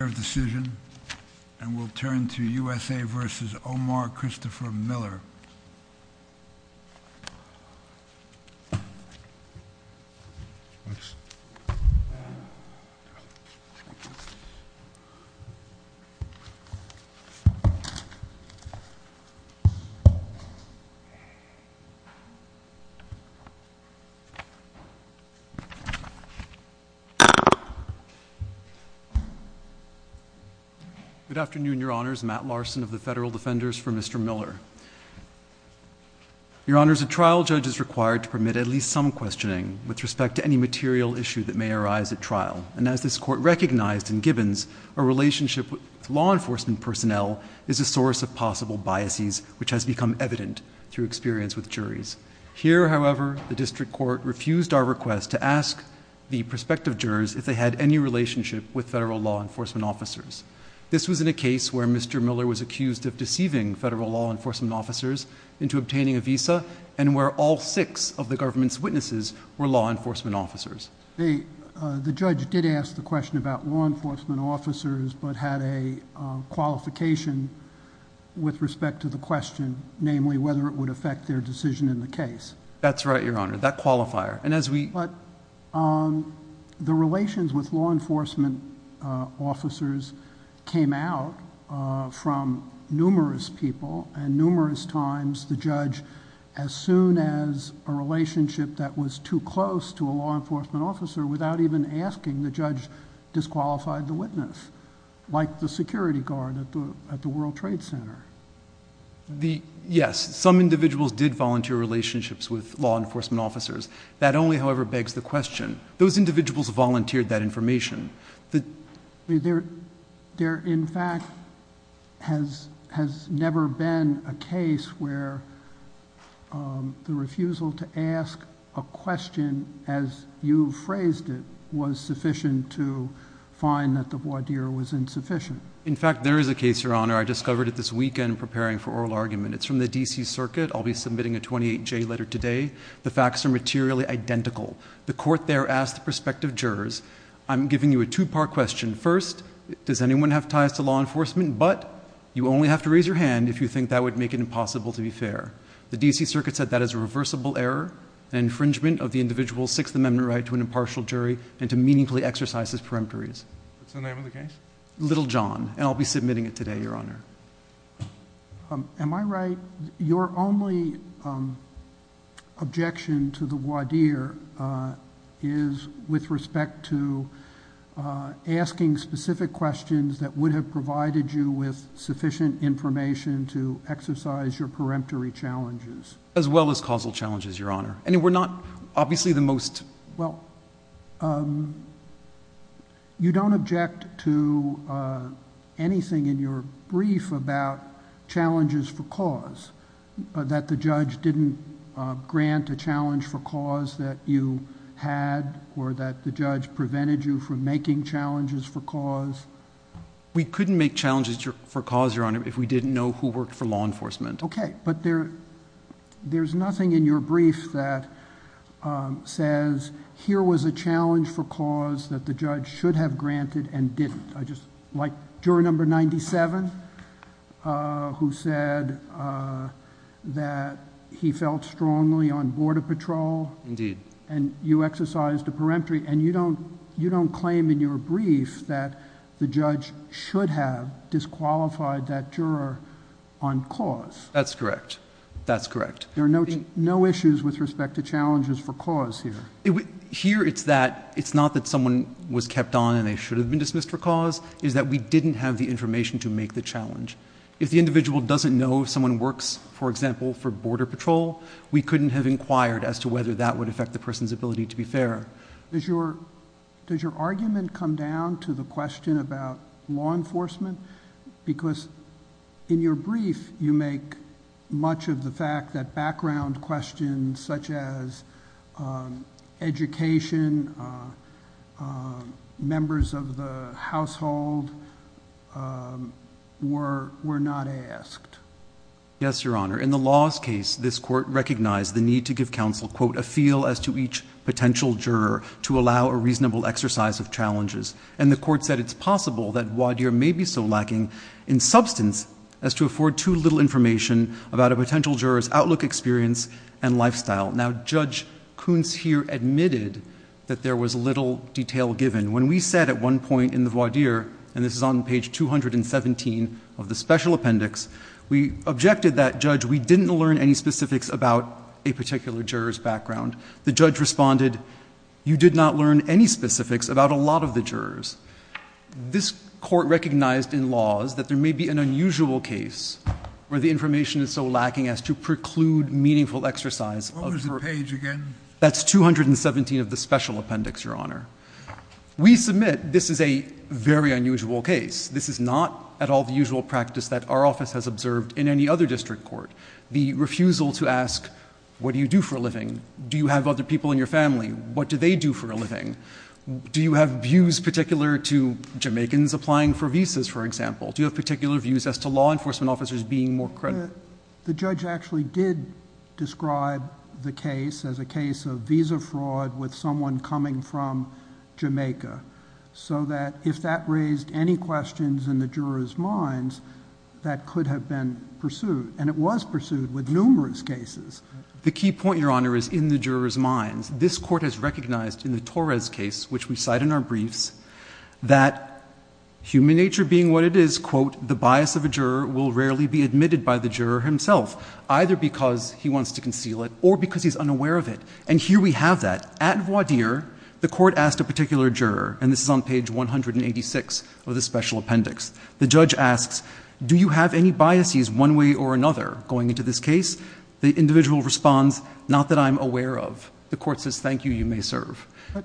U.S.A. v. O.M.M.A.R. Good afternoon, Your Honors. Matt Larson of the Federal Defenders for Mr. Miller. Your Honors, a trial judge is required to permit at least some questioning with respect to any material issue that may arise at trial. And as this Court recognized in Gibbons, a relationship with law enforcement personnel is a source of possible biases, which has become evident through experience with juries. Here, however, the District Court refused our request to ask the prospective jurors if they had any relationship with federal law enforcement officers. This was in a case where Mr. Miller was accused of deceiving federal law enforcement officers into obtaining a visa and where all six of the government's witnesses were law enforcement officers. The judge did ask the question about law enforcement officers but had a qualification with respect to the question, namely whether it would affect their decision in the case. That's right, Your Honor, that qualifier. But the relations with law enforcement officers came out from numerous people and numerous times the judge, as soon as a relationship that was too close to a law enforcement officer, without even asking, the judge disqualified the witness, like the security guard at the World Trade Center. Yes, some individuals did volunteer relationships with law enforcement officers. That only, however, begs the question. Those individuals volunteered that information. There, in fact, has never been a case where the refusal to ask a question as you phrased it was sufficient to find that the voir dire was insufficient. In fact, there is a case, Your Honor, I discovered it this weekend preparing for oral argument. It's from the D.C. Circuit. I'll be submitting a 28-J letter today. The facts are materially identical. The court there asked the prospective jurors, I'm giving you a two-part question. First, does anyone have ties to law enforcement? But you only have to raise your hand if you think that would make it impossible to be fair. The D.C. Circuit said that is a reversible error, an infringement of the individual's Sixth Amendment right to an impartial jury and to meaningfully exercise his peremptories. What's the name of the case? Little John, and I'll be submitting it today, Your Honor. Am I right? Your only objection to the voir dire is with respect to asking specific questions that would have provided you with sufficient information to exercise your peremptory challenges. As well as causal challenges, Your Honor. I mean, we're not obviously the most. Well, you don't object to anything in your brief about challenges for cause, that the judge didn't grant a challenge for cause that you had or that the judge prevented you from making challenges for cause? We couldn't make challenges for cause, Your Honor, if we didn't know who worked for law enforcement. Okay, but there's nothing in your brief that says, here was a challenge for cause that the judge should have granted and didn't. Like juror number 97, who said that he felt strongly on border patrol. Indeed. And you exercised a peremptory, and you don't claim in your brief that the judge should have disqualified that juror on cause. That's correct. That's correct. There are no issues with respect to challenges for cause here. Here, it's not that someone was kept on and they should have been dismissed for cause. It's that we didn't have the information to make the challenge. If the individual doesn't know if someone works, for example, for border patrol, we couldn't have inquired as to whether that would affect the person's ability to be fair. Does your argument come down to the question about law enforcement? Because in your brief, you make much of the fact that background questions, such as education, members of the household, were not asked. Yes, Your Honor. In the laws case, this Court recognized the need to give counsel, quote, a feel as to each potential juror to allow a reasonable exercise of challenges. And the Court said it's possible that voir dire may be so lacking in substance as to afford too little information about a potential juror's outlook, experience, and lifestyle. Now, Judge Kuntz here admitted that there was little detail given. When we said at one point in the voir dire, and this is on page 217 of the special appendix, we objected that, Judge, we didn't learn any specifics about a particular juror's background. The judge responded, you did not learn any specifics about a lot of the jurors. This Court recognized in laws that there may be an unusual case where the information is so lacking as to preclude meaningful exercise of jurors. What was the page again? That's 217 of the special appendix, Your Honor. We submit this is a very unusual case. This is not at all the usual practice that our office has observed in any other district court. The refusal to ask, what do you do for a living? Do you have other people in your family? What do they do for a living? Do you have views particular to Jamaicans applying for visas, for example? Do you have particular views as to law enforcement officers being more credible? The judge actually did describe the case as a case of visa fraud with someone coming from Jamaica. So that if that raised any questions in the jurors' minds, that could have been pursued. And it was pursued with numerous cases. The key point, Your Honor, is in the jurors' minds. This Court has recognized in the Torres case, which we cite in our briefs, that human nature being what it is, quote, the bias of a juror will rarely be admitted by the juror himself, either because he wants to conceal it or because he's unaware of it. And here we have that. At voir dire, the Court asked a particular juror, and this is on page 186 of the special appendix. The judge asks, do you have any biases one way or another going into this case? The individual responds, not that I'm aware of. The Court says, thank you. You may serve. But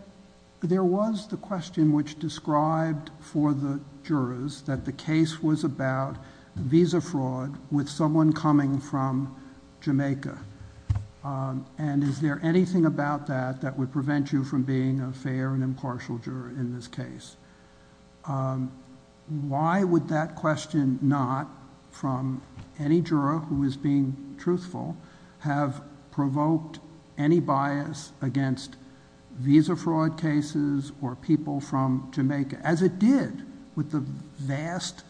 there was the question which described for the jurors that the case was about visa fraud with someone coming from Jamaica. And is there anything about that that would prevent you from being a fair and impartial juror in this case? Why would that question not, from any juror who is being truthful, have provoked any bias against visa fraud cases or people from Jamaica, as it did with the vast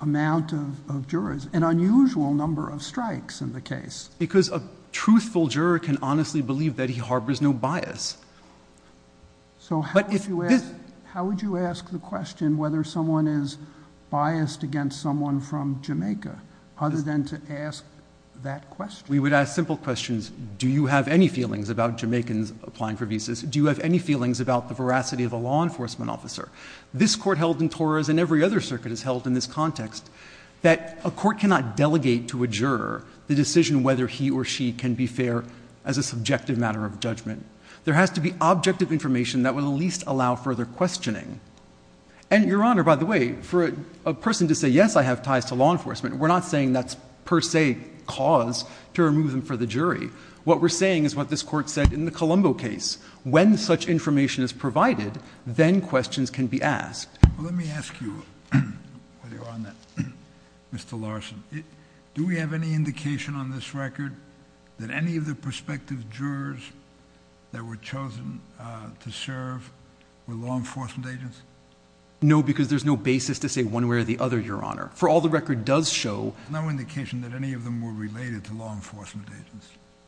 amount of jurors, an unusual number of strikes in the case? Because a truthful juror can honestly believe that he harbors no bias. So how would you ask the question whether someone is biased against someone from Jamaica, other than to ask that question? We would ask simple questions. Do you have any feelings about the veracity of a law enforcement officer? This Court held in Torahs and every other circuit has held in this context that a court cannot delegate to a juror the decision whether he or she can be fair as a subjective matter of judgment. There has to be objective information that will at least allow further questioning. And, Your Honor, by the way, for a person to say, yes, I have ties to law enforcement, we're not saying that's per se cause to remove them from the jury. What we're saying is what this Court said in the Colombo case. When such information is provided, then questions can be asked. Let me ask you, Mr. Larson, do we have any indication on this record that any of the prospective jurors that were chosen to serve were law enforcement agents? No, because there's no basis to say one way or the other, Your Honor. For all the record does show...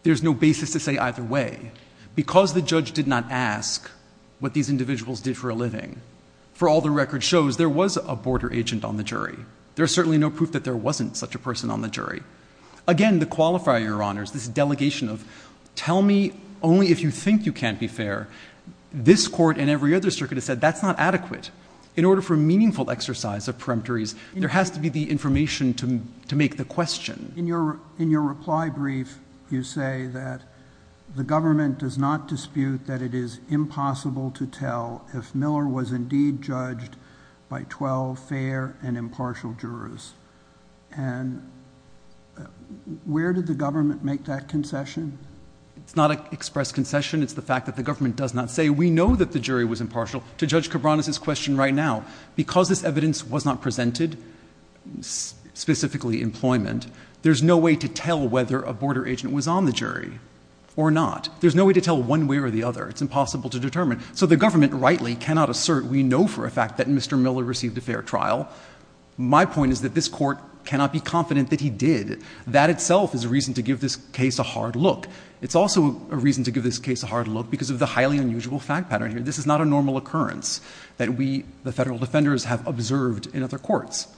there's no basis to say either way. Because the judge did not ask what these individuals did for a living, for all the record shows, there was a border agent on the jury. There's certainly no proof that there wasn't such a person on the jury. Again, the qualifier, Your Honors, this delegation of tell me only if you think you can't be fair, this Court and every other circuit has said that's not adequate. In order for meaningful exercise of peremptories, there has to be the information to make the question. In your reply brief, you say that the government does not dispute that it is impossible to tell if Miller was indeed judged by 12 fair and impartial jurors. And where did the government make that concession? It's not an expressed concession. It's the fact that the government does not say we know that the jury was impartial. To Judge Cabranes' question right now, because this evidence was not presented, specifically employment, there's no way to tell whether a border agent was on the jury or not. There's no way to tell one way or the other. It's impossible to determine. So the government rightly cannot assert we know for a fact that Mr. Miller received a fair trial. My point is that this Court cannot be confident that he did. That itself is a reason to give this case a hard look. It's also a reason to give this case a hard look because of the highly unusual fact pattern here. This is not a normal occurrence that we, the federal defenders, have observed in other courts.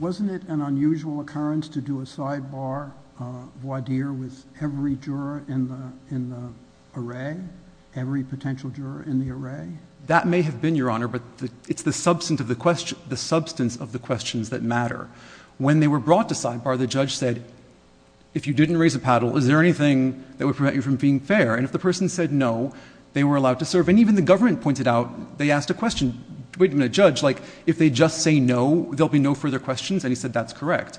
Wasn't it an unusual occurrence to do a sidebar voir dire with every juror in the array, every potential juror in the array? That may have been, Your Honor, but it's the substance of the questions that matter. When they were brought to sidebar, the judge said, if you didn't raise a paddle, is there anything that would prevent you from being fair? And if the person said no, they were allowed to serve. And even the government pointed out, they asked a question, wait a minute, judge, like if they just say no, there will be no further questions? And he said that's correct.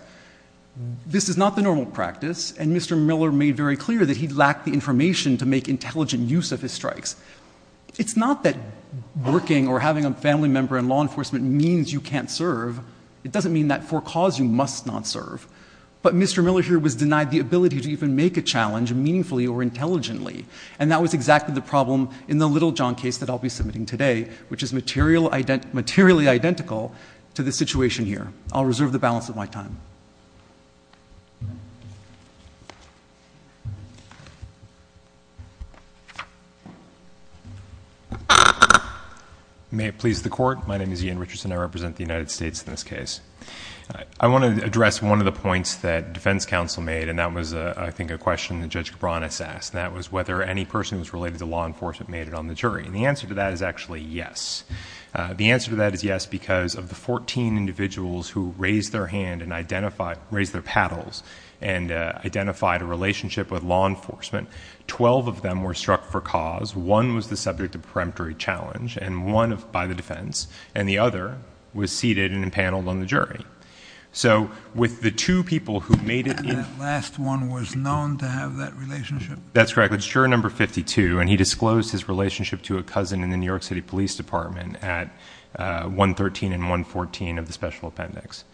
This is not the normal practice. And Mr. Miller made very clear that he lacked the information to make intelligent use of his strikes. It's not that working or having a family member in law enforcement means you can't serve. It doesn't mean that for cause you must not serve. But Mr. Miller here was denied the ability to even make a challenge meaningfully or intelligently. And that was exactly the problem in the Littlejohn case that I'll be submitting today, which is materially identical to the situation here. I'll reserve the balance of my time. May it please the Court. My name is Ian Richardson. I represent the United States in this case. I want to address one of the points that defense counsel made, and that was I think a question that Judge Cabranes asked, and that was whether any person who was related to law enforcement made it on the jury. And the answer to that is actually yes. The answer to that is yes because of the 14 individuals who raised their hand and raised their paddles and identified a relationship with law enforcement, 12 of them were struck for cause. One was the subject of a peremptory challenge by the defense, and the other was seated and paneled on the jury. So with the two people who made it in. And that last one was known to have that relationship? That's correct. It's juror number 52, and he disclosed his relationship to a cousin in the New York City Police Department at 113 and 114 of the special appendix.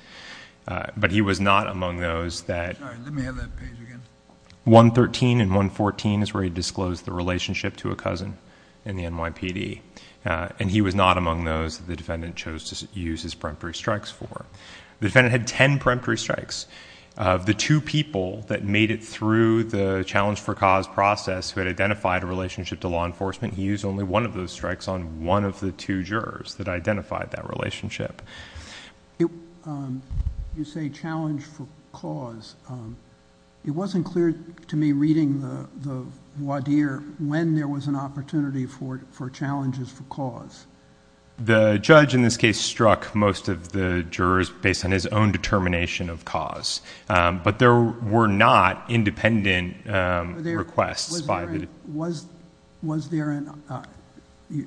But he was not among those that. Sorry, let me have that page again. 113 and 114 is where he disclosed the relationship to a cousin in the NYPD, and he was not among those that the defendant chose to use his peremptory strikes for. The defendant had ten peremptory strikes. The two people that made it through the challenge for cause process who had identified a relationship to law enforcement, he used only one of those strikes on one of the two jurors that identified that relationship. You say challenge for cause. It wasn't clear to me reading the voir dire when there was an opportunity for challenges for cause. The judge in this case struck most of the jurors based on his own determination of cause, but there were not independent requests by the... Was there...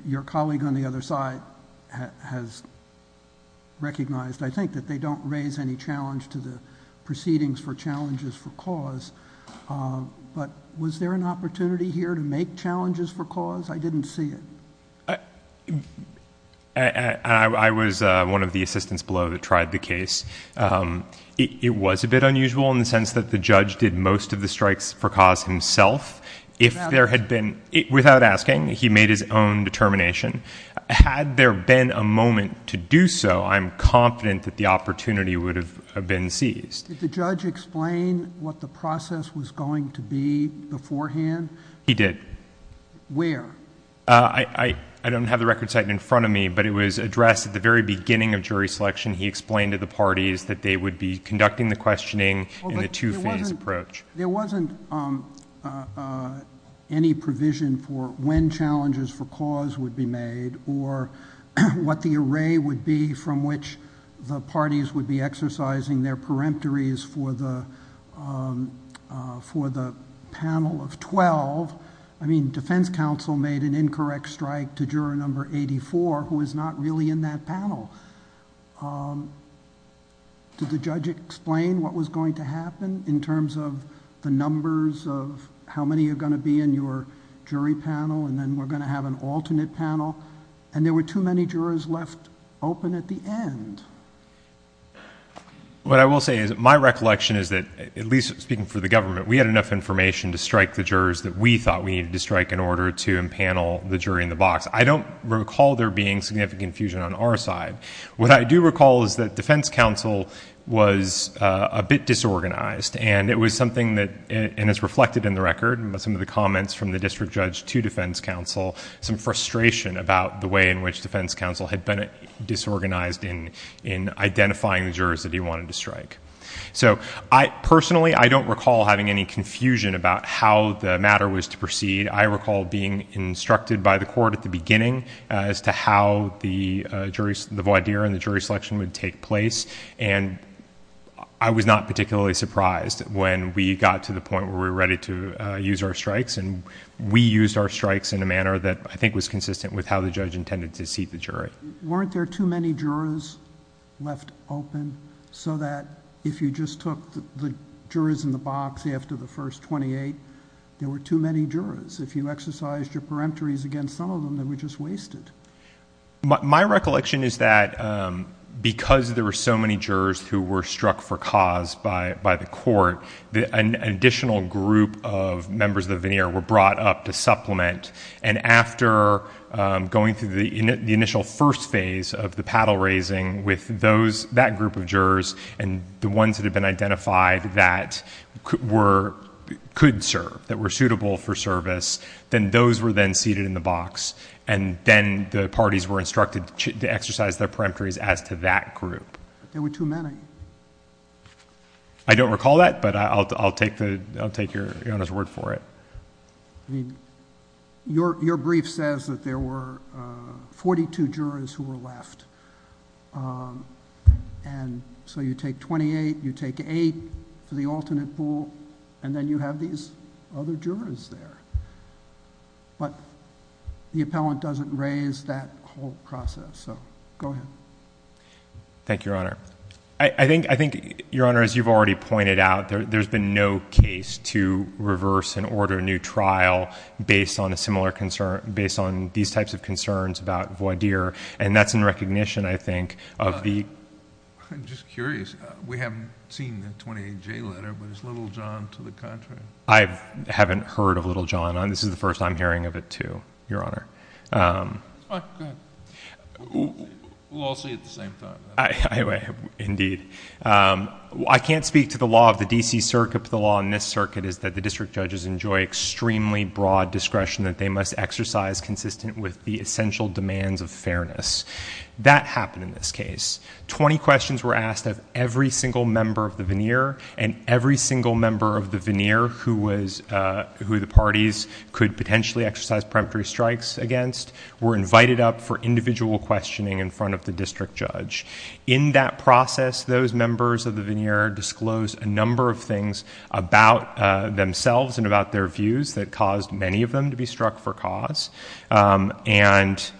Your colleague on the other side has recognized, I think, that they don't raise any challenge to the proceedings for challenges for cause, but was there an opportunity here to make challenges for cause? I didn't see it. I was one of the assistants below that tried the case. It was a bit unusual in the sense that the judge did most of the strikes for cause himself. If there had been... Without asking. Without asking. He made his own determination. Had there been a moment to do so, I'm confident that the opportunity would have been seized. Did the judge explain what the process was going to be beforehand? He did. Where? I don't have the record cited in front of me, but it was addressed at the very beginning of jury selection. He explained to the parties that they would be conducting the questioning in a two-phase approach. There wasn't any provision for when challenges for cause would be made or what the array would be from which the parties would be exercising their peremptories for the panel of twelve. I mean, defense counsel made an incorrect strike to juror number eighty-four who is not really in that panel. Did the judge explain what was going to happen in terms of the numbers of how many are going to be in your jury panel and then we're going to have an alternate panel? And there were too many jurors left open at the end. What I will say is my recollection is that, at least speaking for the government, we had enough information to strike the jurors that we thought we needed to strike in order to empanel the jury in the box. I don't recall there being significant confusion on our side. What I do recall is that defense counsel was a bit disorganized and it was something that is reflected in the record, some of the comments from the district judge to defense counsel, some frustration about the way in which defense counsel had been disorganized in identifying the jurors that he wanted to strike. Personally, I don't recall having any confusion about how the matter was to proceed. I recall being instructed by the court at the beginning as to how the voir dire and the jury selection would take place and I was not particularly surprised when we got to the point where we were ready to use our strikes and we used our strikes in a manner that I think was consistent with how the judge intended to seat the jury. Weren't there too many jurors left open so that if you just took the jurors in the box after the first twenty-eight, there were too many jurors? If you exercised your peremptories against some of them, they were just wasted? My recollection is that because there were so many jurors who were struck for cause by the court, an additional group of members of the veneer were brought up to supplement and after going through the initial first phase of the paddle raising with that group of jurors and the ones that had been identified that could serve, that were suitable for service, then those were then seated in the box and then the parties were instructed to exercise their peremptories as to that group. There were too many. I don't recall that, but I'll take your honest word for it. Your brief says that there were forty-two jurors who were left. So you take twenty-eight, you take eight for the alternate pool, and then you have these other jurors there. But the appellant doesn't raise that whole process, so go ahead. Thank you, Your Honor. I think, Your Honor, as you've already pointed out, there's been no case to reverse and order a new trial based on these types of concerns about Voidir, and that's in recognition, I think, of the— I'm just curious. We haven't seen the 28J letter, but is Littlejohn to the contrary? I haven't heard of Littlejohn. This is the first I'm hearing of it, too, Your Honor. Go ahead. We'll all see it at the same time. Indeed. I can't speak to the law of the D.C. Circuit, but the law in this circuit is that the district judges enjoy extremely broad discretion that they must exercise consistent with the essential demands of fairness. That happened in this case. Twenty questions were asked of every single member of the veneer, and every single member of the veneer who the parties could potentially exercise preemptory strikes against were invited up for individual questioning in front of the district judge. In that process, those members of the veneer disclosed a number of things about themselves and about their views that caused many of them to be struck for cause and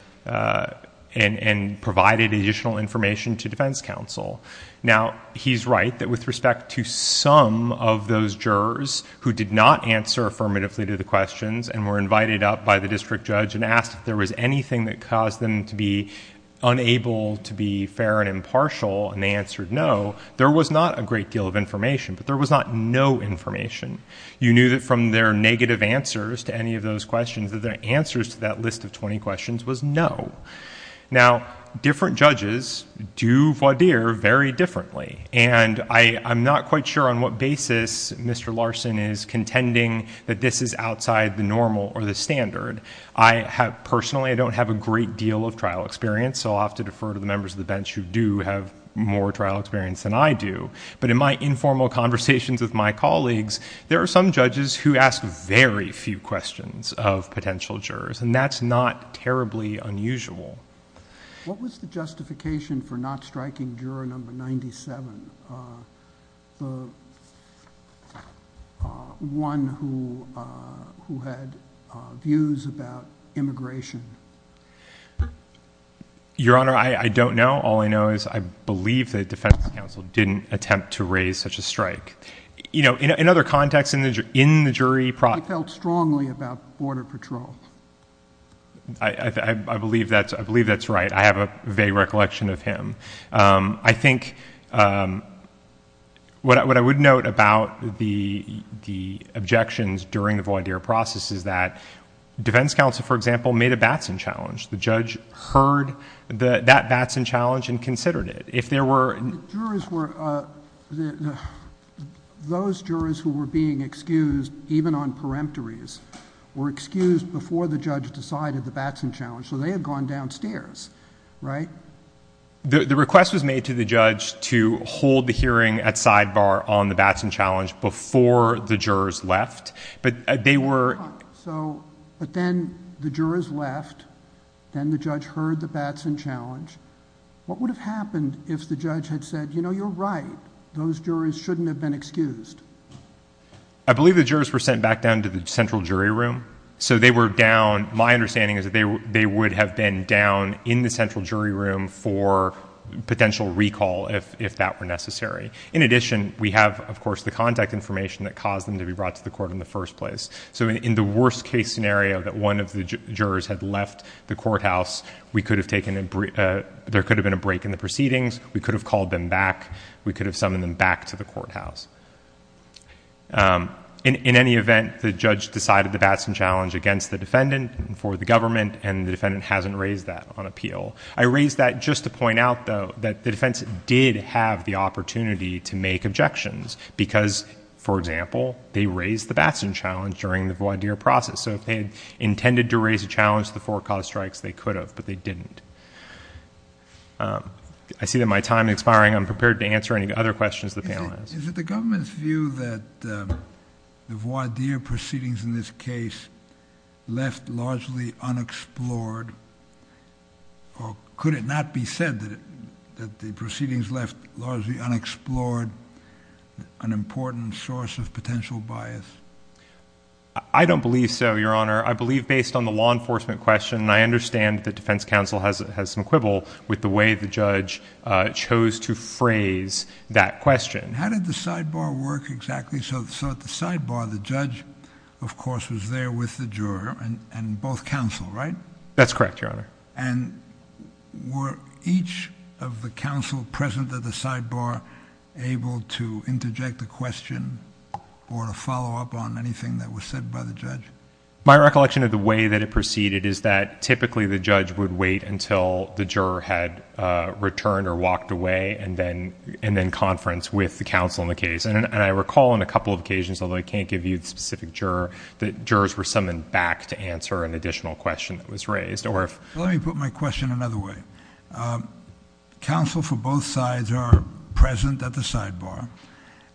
provided additional information to defense counsel. Now, he's right that with respect to some of those jurors who did not answer affirmatively to the questions and were invited up by the district judge and asked if there was anything that caused them to be unable to be fair and impartial, and they answered no, there was not a great deal of information, but there was not no information. You knew that from their negative answers to any of those questions that their answers to that list of 20 questions was no. Now, different judges do voir dire very differently, and I'm not quite sure on what basis Mr. Larson is contending that this is outside the normal or the standard. Personally, I don't have a great deal of trial experience, so I'll have to defer to the members of the bench who do have more trial experience than I do. But in my informal conversations with my colleagues, there are some judges who ask very few questions of potential jurors, and that's not terribly unusual. What was the justification for not striking juror number 97, the one who had views about immigration? Your Honor, I don't know. All I know is I believe the defense counsel didn't attempt to raise such a strike. You know, in other contexts, in the jury process— He felt strongly about Border Patrol. I believe that's right. I have a vague recollection of him. I think what I would note about the objections during the voir dire process is that defense counsel, for example, made a Batson challenge. The judge heard that Batson challenge and considered it. Those jurors who were being excused, even on peremptories, were excused before the judge decided the Batson challenge, so they had gone downstairs, right? The request was made to the judge to hold the hearing at sidebar on the Batson challenge before the jurors left, but they were— But then the jurors left, then the judge heard the Batson challenge. What would have happened if the judge had said, you know, you're right, those jurors shouldn't have been excused? I believe the jurors were sent back down to the central jury room, so they were down— My understanding is that they would have been down in the central jury room for potential recall if that were necessary. In addition, we have, of course, the contact information that caused them to be brought to the court in the first place. So in the worst-case scenario that one of the jurors had left the courthouse, we could have taken a— There could have been a break in the proceedings. We could have called them back. We could have summoned them back to the courthouse. In any event, the judge decided the Batson challenge against the defendant for the government, and the defendant hasn't raised that on appeal. I raise that just to point out, though, that the defense did have the opportunity to make objections because, for example, they raised the Batson challenge during the voir dire process. So if they had intended to raise a challenge to the forecast strikes, they could have, but they didn't. I see that my time is expiring. I'm prepared to answer any other questions the panel has. Is it the government's view that the voir dire proceedings in this case left largely unexplored, or could it not be said that the proceedings left largely unexplored, an important source of potential bias? I don't believe so, Your Honor. I believe based on the law enforcement question, and I understand that defense counsel has some quibble with the way the judge chose to phrase that question. How did the sidebar work exactly? So at the sidebar, the judge, of course, was there with the juror and both counsel, right? That's correct, Your Honor. And were each of the counsel present at the sidebar able to interject a question or to follow up on anything that was said by the judge? My recollection of the way that it proceeded is that typically the judge would wait until the juror had returned or walked away and then conference with the counsel in the case. And I recall on a couple of occasions, although I can't give you the specific juror, that jurors were summoned back to answer an additional question that was raised. Let me put my question another way. Counsel for both sides are present at the sidebar,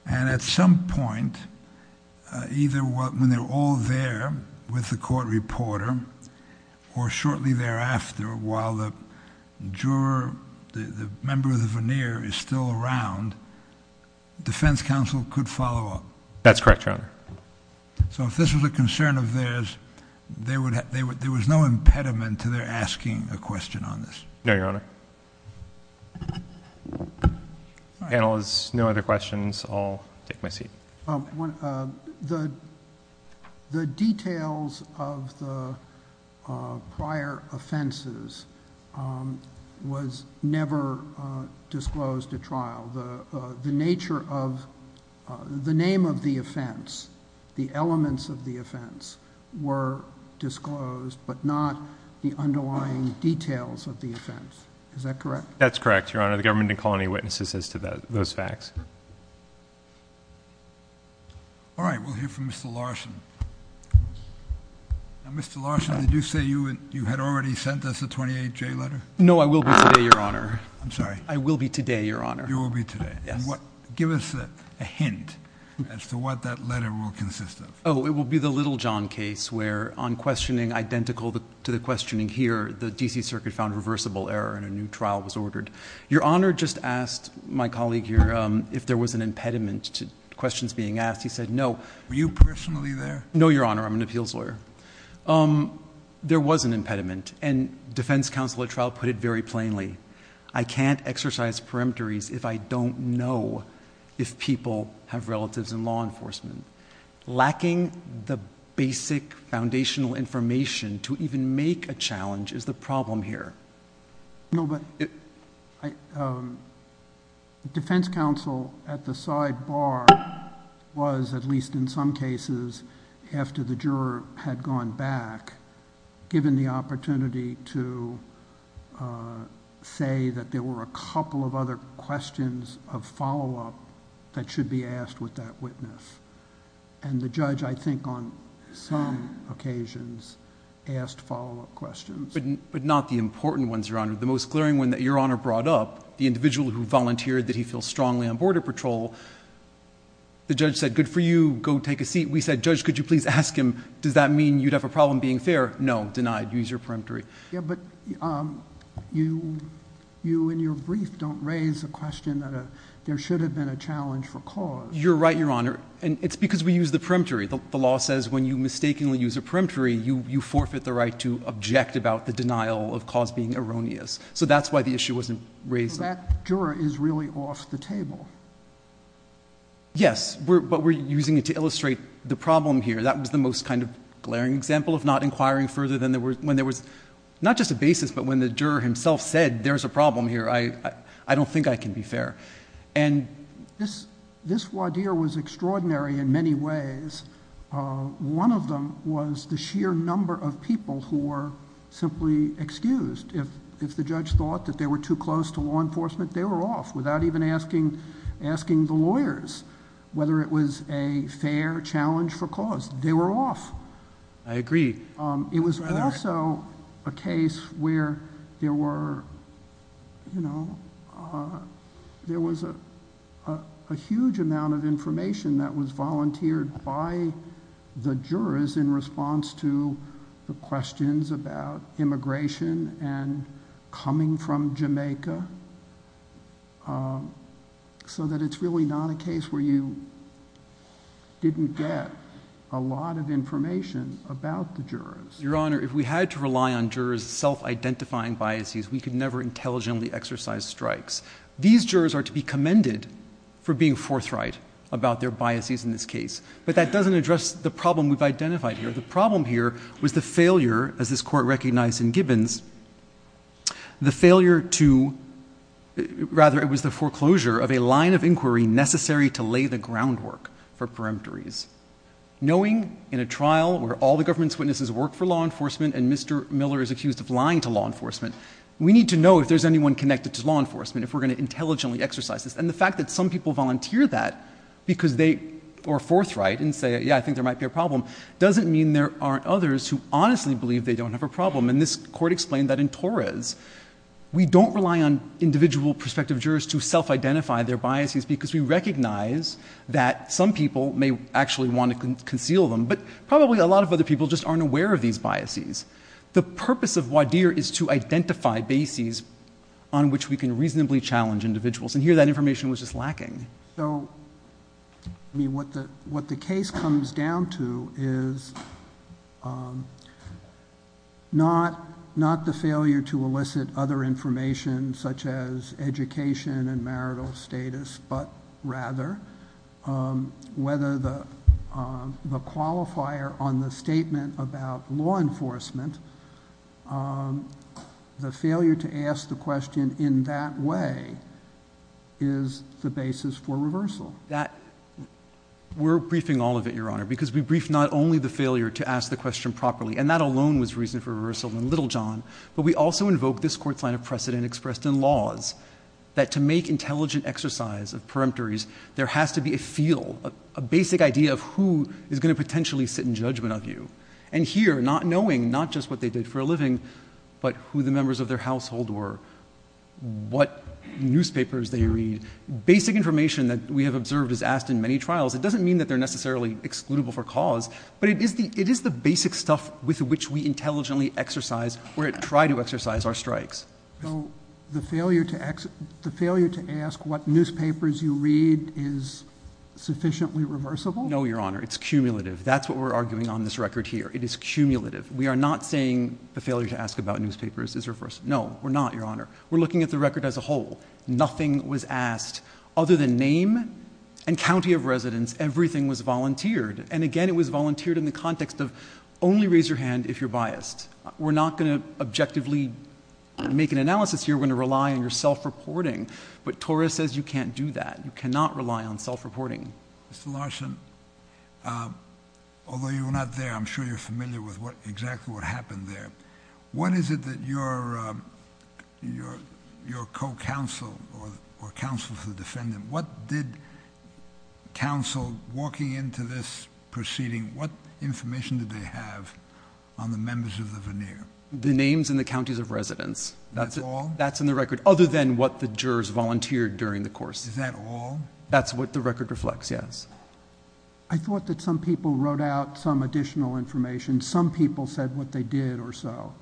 and at some point, either when they're all there with the court reporter or shortly thereafter while the juror, the member of the voir dire, is still around, defense counsel could follow up. That's correct, Your Honor. So if this was a concern of theirs, there was no impediment to their asking a question on this? No, Your Honor. Panelists, no other questions? I'll take my seat. The details of the prior offenses was never disclosed at trial. The nature of the name of the offense, the elements of the offense were disclosed, but not the underlying details of the offense. Is that correct? That's correct, Your Honor. All right, we'll hear from Mr. Larson. Now, Mr. Larson, did you say you had already sent us a 28-J letter? No, I will be today, Your Honor. I'm sorry. I will be today, Your Honor. You will be today. Yes. Give us a hint as to what that letter will consist of. Oh, it will be the Little John case where on questioning identical to the questioning here, the D.C. Circuit found reversible error and a new trial was ordered. Your Honor just asked my colleague here if there was an impediment to questions being asked. He said no. Were you personally there? No, Your Honor. I'm an appeals lawyer. There was an impediment, and defense counsel at trial put it very plainly. I can't exercise perimetries if I don't know if people have relatives in law enforcement. Lacking the basic foundational information to even make a challenge is the problem here. No, but defense counsel at the sidebar was, at least in some cases, after the juror had gone back, given the opportunity to say that there were a couple of other questions of follow-up that should be asked with that witness, and the judge, I think on some occasions, asked follow-up questions. But not the important ones, Your Honor. The most glaring one that Your Honor brought up, the individual who volunteered that he feels strongly on border patrol, the judge said, good for you. Go take a seat. We said, Judge, could you please ask him, does that mean you'd have a problem being fair? No. Denied. Use your peremptory. Yeah, but you in your brief don't raise a question that there should have been a challenge for cause. You're right, Your Honor, and it's because we use the peremptory. The law says when you mistakenly use a peremptory, you forfeit the right to object about the denial of cause being erroneous. So that's why the issue wasn't raised. But that juror is really off the table. Yes, but we're using it to illustrate the problem here. That was the most kind of glaring example of not inquiring further than when there was not just a basis, but when the juror himself said there's a problem here, I don't think I can be fair. This Wadir was extraordinary in many ways. One of them was the sheer number of people who were simply excused. If the judge thought that they were too close to law enforcement, they were off without even asking the lawyers whether it was a fair challenge for cause. They were off. I agree. It was also a case where there was a huge amount of information that was volunteered by the jurors in response to the questions about immigration and coming from Jamaica, so that it's really not a case where you didn't get a Your Honor, if we had to rely on jurors' self-identifying biases, we could never intelligently exercise strikes. These jurors are to be commended for being forthright about their biases in this case, but that doesn't address the problem we've identified here. The problem here was the failure, as this Court recognized in Gibbons, the failure to, rather it was the foreclosure of a line of inquiry necessary to lay the groundwork for peremptories. Knowing in a trial where all the government's witnesses work for law enforcement and Mr. Miller is accused of lying to law enforcement, we need to know if there's anyone connected to law enforcement, if we're going to intelligently exercise this. The fact that some people volunteer that because they are forthright and say, yeah, I think there might be a problem, doesn't mean there aren't others who honestly believe they don't have a problem. This Court explained that in Torres, we don't rely on individual prospective jurors to self-identify their biases because we recognize that some people may actually want to conceal them, but probably a lot of other people just aren't aware of these biases. The purpose of Wadir is to identify bases on which we can reasonably challenge individuals, and here that information was just lacking. So, I mean, what the case comes down to is not the failure to elicit other the qualifier on the statement about law enforcement. The failure to ask the question in that way is the basis for reversal. We're briefing all of it, Your Honor, because we brief not only the failure to ask the question properly, and that alone was reason for reversal in Littlejohn, but we also invoke this Court's line of precedent expressed in laws, that to make of who is going to potentially sit in judgment of you. And here, not knowing not just what they did for a living, but who the members of their household were, what newspapers they read. Basic information that we have observed is asked in many trials. It doesn't mean that they're necessarily excludable for cause, but it is the basic stuff with which we intelligently exercise or try to exercise our strikes. So, the failure to ask what newspapers you read is sufficiently reversible? No, Your Honor, it's cumulative. That's what we're arguing on this record here. It is cumulative. We are not saying the failure to ask about newspapers is reversible. No, we're not, Your Honor. We're looking at the record as a whole. Nothing was asked other than name and county of residence. Everything was volunteered, and again, it was volunteered in the context of only raise your hand if you're biased. We're not going to objectively make an analysis here. We're going to rely on your self-reporting. But Torres says you can't do that. You cannot rely on self-reporting. Mr. Larson, although you were not there, I'm sure you're familiar with exactly what happened there. When is it that your co-counsel or counsel to the defendant, what did counsel to the defendant? The names and the counties of residence. That's all? That's in the record, other than what the jurors volunteered during the course. Is that all? That's what the record reflects, yes. I thought that some people wrote out some additional information. Some people said what they did or so.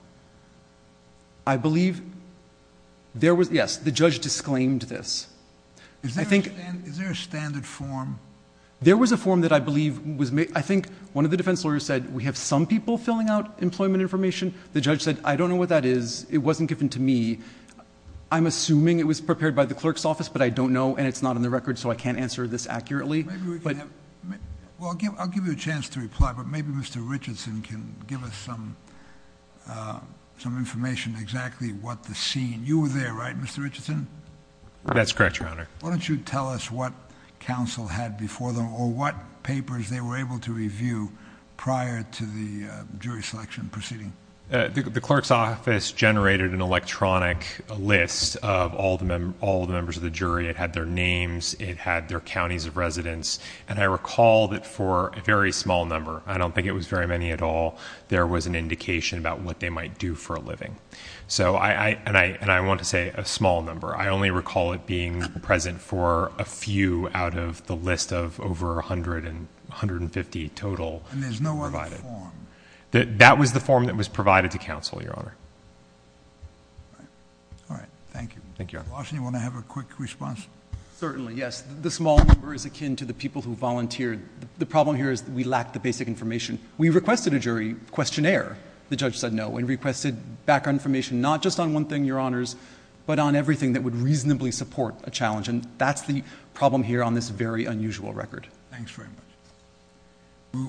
I believe there was... yes, the judge disclaimed this. Is there a standard form? There was a form that I believe was... I think one of the defense lawyers said we have some people filling out employment information. The judge said I don't know what that is. It wasn't given to me. I'm assuming it was prepared by the clerk's office, but I don't know, and it's not in the record, so I can't answer this accurately. Maybe we can have... I'll give you a chance to reply, but maybe Mr. Richardson can give us some information exactly what the scene... You were there, right, Mr. Richardson? That's correct, Your Honor. Why don't you tell us what counsel had before them or what papers they were able to review prior to the jury selection proceeding? The clerk's office generated an electronic list of all the members of the jury. It had their names. It had their counties of residence, and I recall that for a very small number, I don't think it was very many at all, there was an indication about what they might do for a living, and I want to say a small number. I only recall it being present for a few out of the list of over 150 total... And there's no other form? That was the form that was provided to counsel, Your Honor. All right. Thank you. Thank you, Your Honor. Washington, do you want to have a quick response? Certainly, yes. The small number is akin to the people who volunteered. The problem here is that we lack the basic information. We requested a jury questionnaire. The judge said no and requested background information not just on one thing, Your Honors, but on everything that would reasonably support a challenge, and that's the problem here on this very unusual record. Thanks very much.